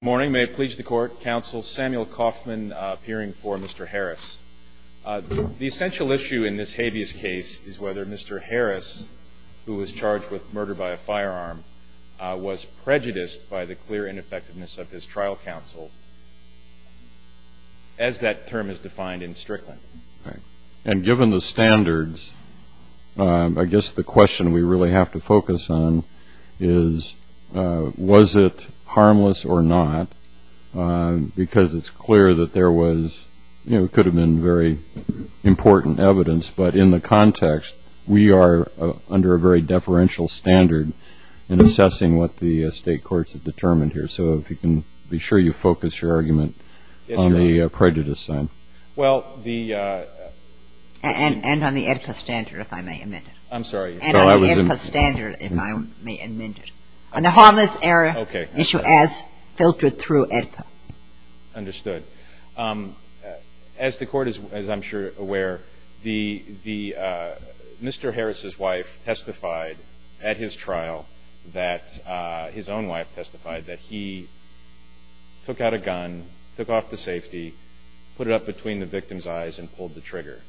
morning may it please the court counsel Samuel Kaufman appearing for Mr. Harris the essential issue in this habeas case is whether Mr. Harris who was charged with murder by a firearm was prejudiced by the clear ineffectiveness of his trial counsel as that term is defined in Strickland. And given the standards I guess the question we really have to focus on is was it harmless or not because it's clear that there was you know it could have been very important evidence but in the context we are under a very deferential standard in assessing what the state courts have determined here. So if you can be sure you focus your argument on the prejudice side. And on the EPCA standard if I may amend it. I'm sorry. And on the EPCA standard if I may amend it. On the harmless error issue as filtered through EPCA. Understood. As the court is I'm sure aware the Mr. Harris's wife testified at his trial that his own wife testified that he took out a gun, took off the safety, put it up between the victim's eyes and pulled the trigger.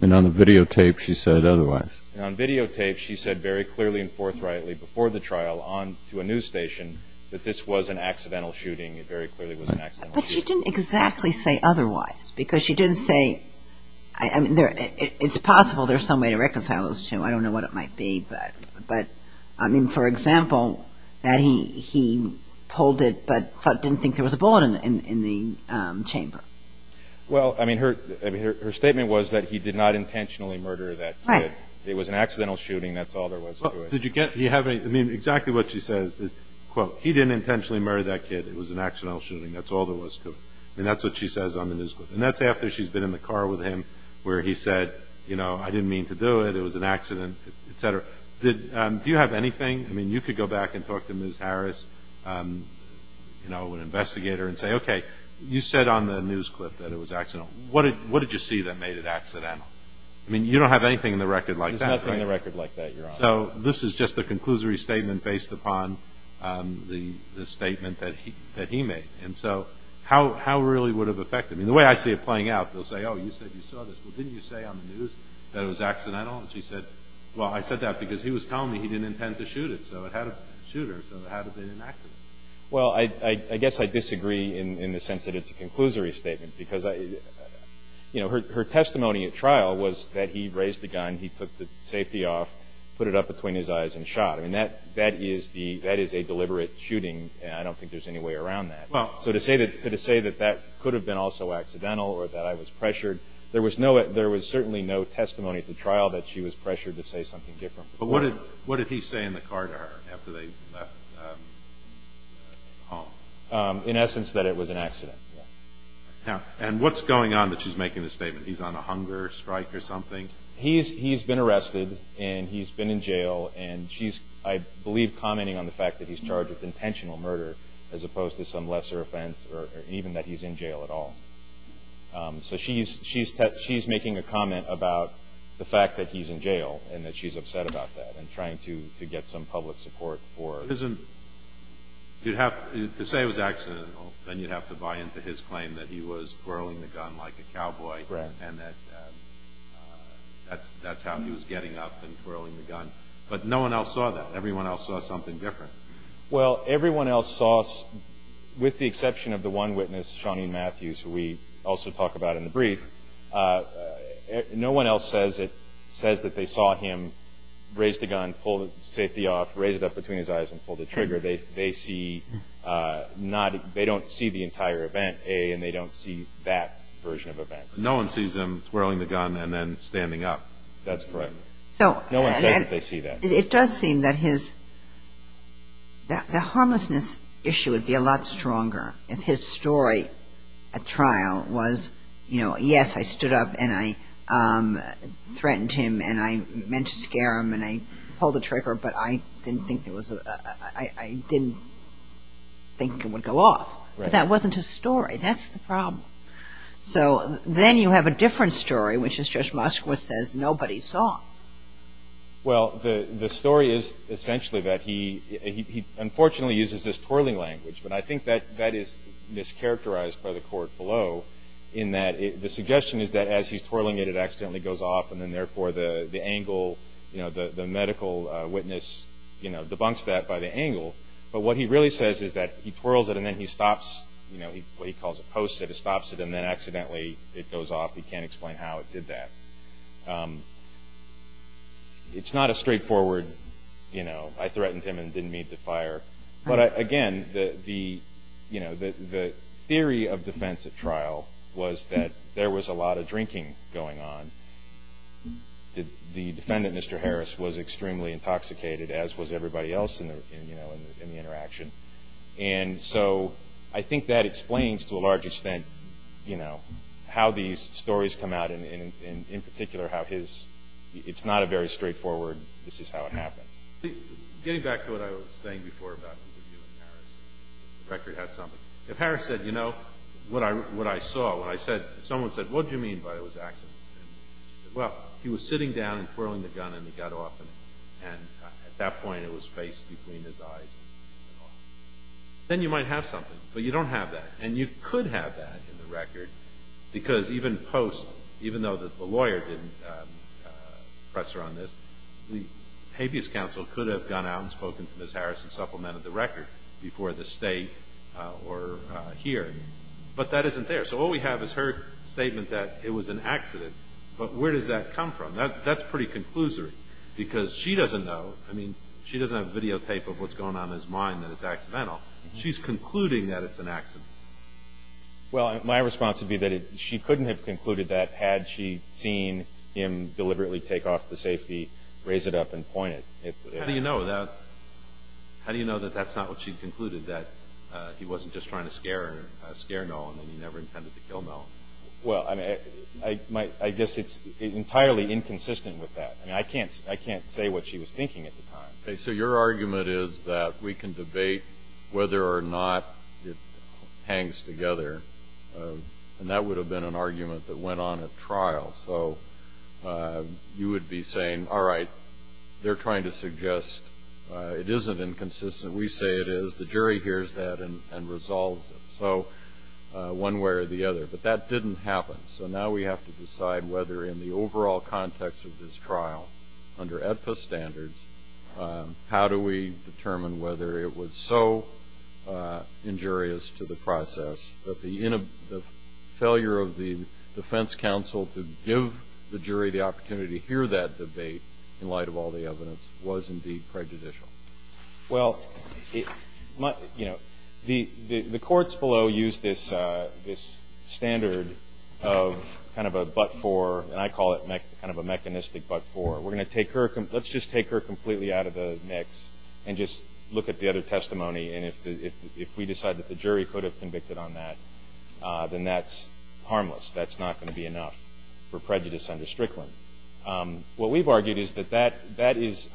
And on the videotape she said otherwise. And on videotape she said very clearly and forthrightly before the trial on to a news station that this was an accidental shooting. It very clearly was an accidental shooting. But she didn't exactly say otherwise because she didn't say I mean it's possible there's some way to reconcile those two. I don't know what it might be. But I mean for example that he pulled it but didn't think there was a bullet in the chamber. Well I mean her statement was that he did not intentionally murder that kid. Right. It was an accidental shooting. That's all there was to it. Did you get I mean exactly what she says is quote he didn't intentionally murder that kid. It was an accidental shooting. That's all there was to it. And that's what she says on the news. And that's after she's been in the car with him where he said you know I didn't mean to do it. It was an accident. Et cetera. Do you have anything I mean you could go back and talk to Ms. Harris you know an investigator and say OK you said on the news clip that it was accidental. What did you see that made it accidental. I mean you don't have anything in the record like that. There's nothing in the record like that. So this is just a conclusory statement based upon the statement that he made. And so how really would have affected me. The way I see it playing out they'll say oh you said you saw this. Well didn't you say on the news that it was accidental. And she said well I said that because he was telling me he didn't intend to shoot it. So it had a shooter. So it had to have been an accident. Well I guess I disagree in the sense that it's a conclusory statement because I you know her testimony at trial was that he raised the gun. He took the safety off put it up between his eyes and shot. And that that is the that is a deliberate shooting. And I don't think there's any way around that. So to say that to say that that could have been also accidental or that I was pressured. There was no there was certainly no testimony at the trial that she was pressured to say something different. But what did what did he say in the car to her after they left home. In essence that it was an accident. And what's going on that she's making the statement he's on a hunger strike or something. He's he's been arrested and he's been in jail and she's I believe commenting on the fact that he's charged with intentional murder as opposed to some lesser offense or even that he's in jail at all. So she's she's she's making a comment about the fact that he's in jail and that she's upset about that. And trying to get some public support for prison. You'd have to say it was accidental and you'd have to buy into his claim that he was twirling the gun like a cowboy. Right. And that that's that's how he was getting up and twirling the gun. But no one else saw that. Everyone else saw something different. Well everyone else saw us with the exception of the one witness Shawny Matthews who we also talk about in the brief. No one else says it says that they saw him raise the gun pull the safety off raise it up between his eyes and pull the trigger. They they see not they don't see the entire event and they don't see that version of events. No one sees him twirling the gun and then standing up. That's correct. So no one says that they see that. It does seem that his that the harmlessness issue would be a lot stronger if his story at trial was you know yes I stood up and I threatened him and I meant to scare him and I threatened him and I threatened him and I pulled the trigger but I didn't think it was I didn't think it would go off. Right. But that wasn't his story. That's the problem. So then you have a different story which is just Moskowitz says nobody saw. Well the the story is essentially that he he unfortunately uses this twirling language but I think that that is mischaracterized by the court below in that the suggestion is that as he's twirling it it accidentally goes off and therefore the the angle you know the the medical witness you know debunks that by the angle but what he really says is that he twirls it and then he stops you know he he calls it post it he stops it and then accidentally it goes off. He can't explain how it did that. It's not a straightforward you know I threatened him and didn't mean to fire. But again the the you know the the theory of defense at trial was that there was a lot of drinking going on. The defendant Mr. Harris was extremely intoxicated as was everybody else in the you know in the interaction. And so I think that explains to a large extent you know how these stories come out and in particular how his it's not a very straightforward this is how it happened. Getting back to what I was saying before about the review of Harris. The record had something. If Harris said you know what I what I saw when I said someone said what do you mean by it was an accident. Well he was sitting down and twirling the gun and it got off and at that point it was faced between his eyes. Then you might have something but you don't have that and you could have that in the record because even post even though that the lawyer didn't press her on this the habeas counsel could have gone out and spoken to Ms. Harris and supplemented the record before the state or here. But that isn't there. So all we have is her statement that it was an accident. But where does that come from. That's pretty conclusory because she doesn't know. I mean she doesn't have videotape of what's going on in his mind that it's accidental. She's concluding that it's an accident. Well my response would be that she couldn't have concluded that had she seen him deliberately take off the safety raise it up and point it. How do you know that. How do you know that that's not what she concluded that he wasn't just trying to I guess it's entirely inconsistent with that. I can't I can't say what she was thinking at the time. So your argument is that we can debate whether or not it hangs together. And that would have been an argument that went on at trial. So you would be saying all right they're trying to suggest it isn't inconsistent. We say it is. The jury hears that and resolves it. So one way or the other. But that didn't happen. So now we have to decide. Whether in the overall context of this trial under APA standards. How do we determine whether it was so injurious to the process that the end of the failure of the defense counsel to give the jury the opportunity to hear that debate in light of all the evidence was indeed prejudicial. Well you know the courts below use this this standard of kind of a button for and I call it kind of a mechanistic but for. We're going to take her. Let's just take her completely out of the mix and just look at the other testimony. And if we decide that the jury could have convicted on that then that's harmless. That's not going to be enough for prejudice under Strickland. What we've argued is that that that is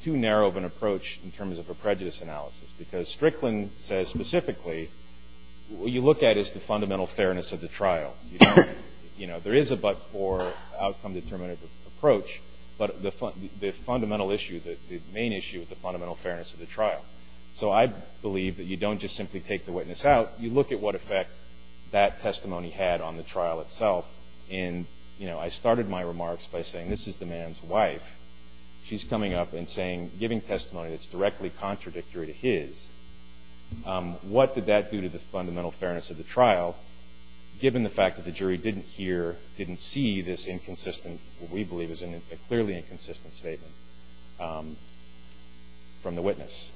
too narrow of an approach in terms of a prejudice analysis because Strickland says specifically what you look at is the fundamental fairness of the trial. You know there is a but for outcome determinative approach. But the fundamental issue that the main issue with the fundamental fairness of the trial. So I believe that you don't just simply take the witness out. You look at what effect that testimony had on the trial itself. And you know I started my remarks by saying this is the man's wife. She's coming up and saying giving testimony that's directly contradictory to his. What did that do to the fundamental fairness of the trial. Given the fact that the jury didn't hear didn't see this inconsistent we believe is a clearly inconsistent statement from the witness.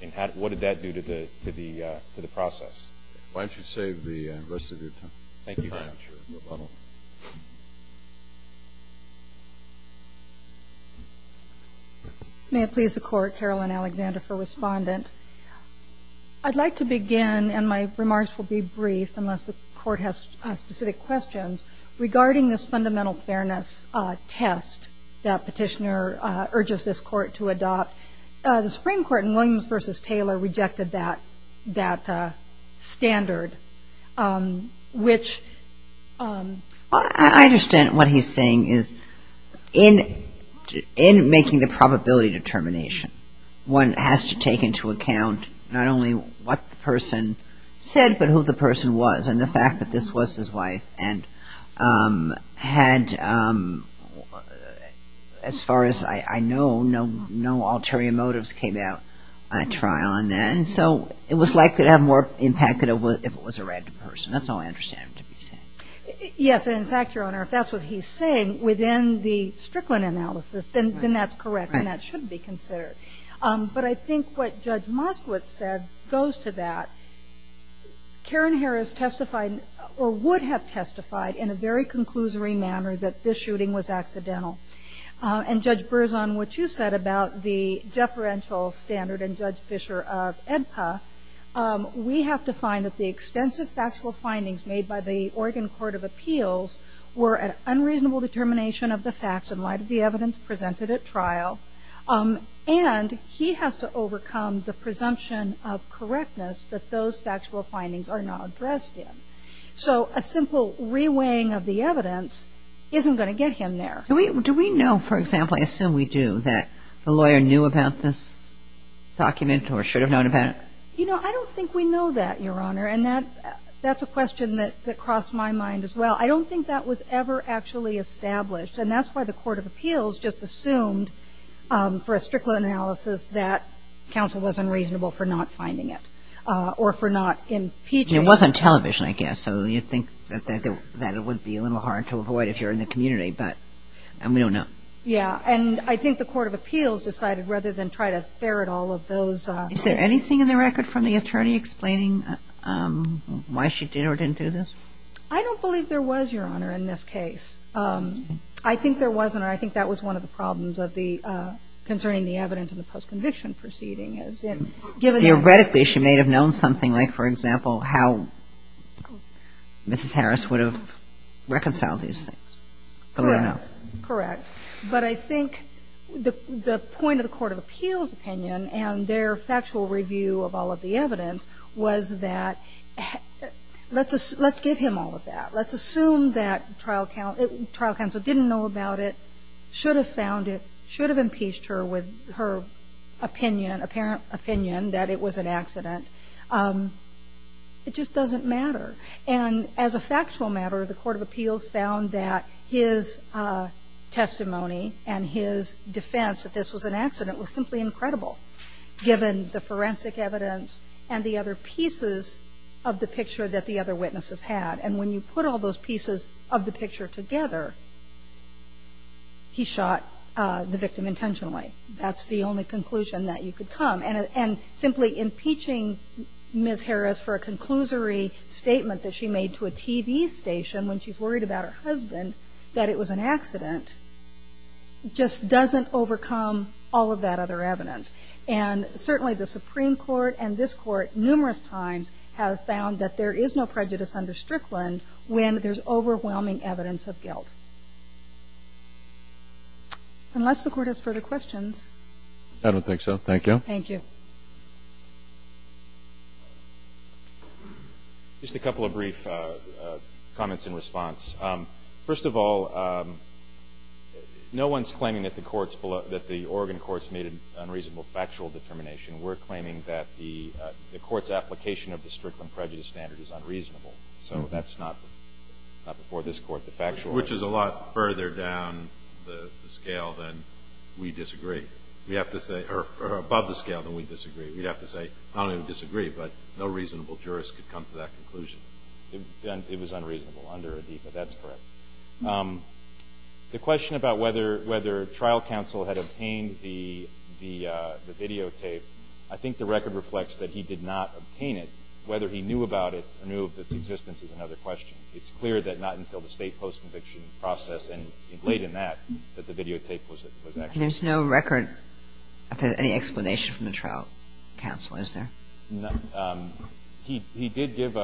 And what did that do to the to the to the process. Why don't you save the rest of your time. Thank you. May it please the court. Carolyn Alexander for respondent. I'd like to begin and my remarks will be brief unless the court has specific questions regarding this fundamental fairness test that petitioner urges this court to adopt. The Supreme Court in Williams versus Taylor rejected that that standard which I understand what he's saying is in in making the probability determination one has to take into account not only what the person said but who the person was and the fact that this was his wife and had as far as I know no no ulterior motives came out at trial. And so it was likely to have more impact than it was if it was a random person. That's all I understand him to be saying. Yes. In fact Your Honor if that's what he's saying within the Strickland analysis then that's correct and that should be considered. But I think what Judge Moskowitz said goes to that. Karen Harris testified or would have testified in a very conclusory manner that this shooting was accidental. And Judge Burzon what you said about the deferential standard and Judge Fischer of EDPA. We have to find that the extensive factual findings made by the Oregon Court of Appeals were an unreasonable determination of the facts in light of the presumption of correctness that those factual findings are not addressed in. So a simple reweighing of the evidence isn't going to get him there. Do we do we know for example I assume we do that the lawyer knew about this document or should have known about it. You know I don't think we know that Your Honor and that that's a question that crossed my mind as well. I don't think that was ever actually established and that's why the Court of Appeals just assumed for a Strickland analysis that counsel was unreasonable for not finding it or for not impeaching. It was on television I guess so you'd think that it would be a little hard to avoid if you're in the community but we don't know. Yeah and I think the Court of Appeals decided rather than try to ferret all of those. Is there anything in the record from the attorney explaining why she did or didn't do this. I don't believe there was Your Honor in this case. I think there wasn't or I think that was one of the problems of the concerning the evidence in the post conviction proceeding. Theoretically she may have known something like for example how Mrs. Harris would have reconciled these things. Correct. But I think the point of the Court of Appeals opinion and their factual review of all of the evidence was that let's give him all of that. Let's assume that trial counsel didn't know about it, should have found it, should have impeached her with her opinion apparent opinion that it was an accident. It just doesn't matter. And as a factual matter the Court of Appeals found that his testimony and his defense that this was an accident was simply incredible given the forensic evidence and the other pieces of the picture that the other witnesses had. And when you put all those pieces of the evidence together, you can't convict him intentionally. That's the only conclusion that you could come. And simply impeaching Ms. Harris for a conclusory statement that she made to a TV station when she's worried about her husband that it was an accident just doesn't overcome all of that other evidence. And certainly the Supreme Court and this Court numerous times have found that there is no prejudice under Strickland when there's overwhelming evidence of guilt. Unless the Court has further questions. I don't think so. Thank you. Just a couple of brief comments in response. First of all, no one's claiming that the Oregon courts made an unreasonable factual determination. We're claiming that the court's application of the Strickland prejudice standard is unreasonable. So that's not before this Court, the factual. Which is a lot further down the scale than we disagree. We have to say, or above the scale than we disagree. We have to say, not only do we disagree, but no reasonable jurist could come to that conclusion. It was unreasonable under Adipa. That's correct. The question about whether trial counsel had obtained the videotape, I think the record reflects that he did not obtain it. Whether he knew about it or knew of its existence is another question. It's clear that not until the state post-conviction process and late in that, that the videotape was actually obtained. There's no record of any explanation from the trial counsel, is there? He did give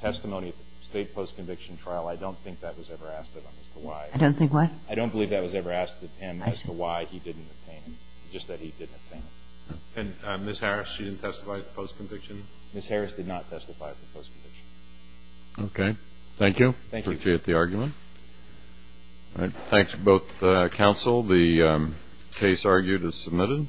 testimony at the state post-conviction trial. I don't think that was ever asked of him as to why. I don't think what? I don't believe that was ever asked of him as to why he didn't obtain it. Just that he didn't obtain it. And Ms. Harris, she didn't testify at the post-conviction? Ms. Harris did not testify at the post-conviction. Okay. Thank you. Appreciate the argument. Thanks to both counsel. The case argued is submitted.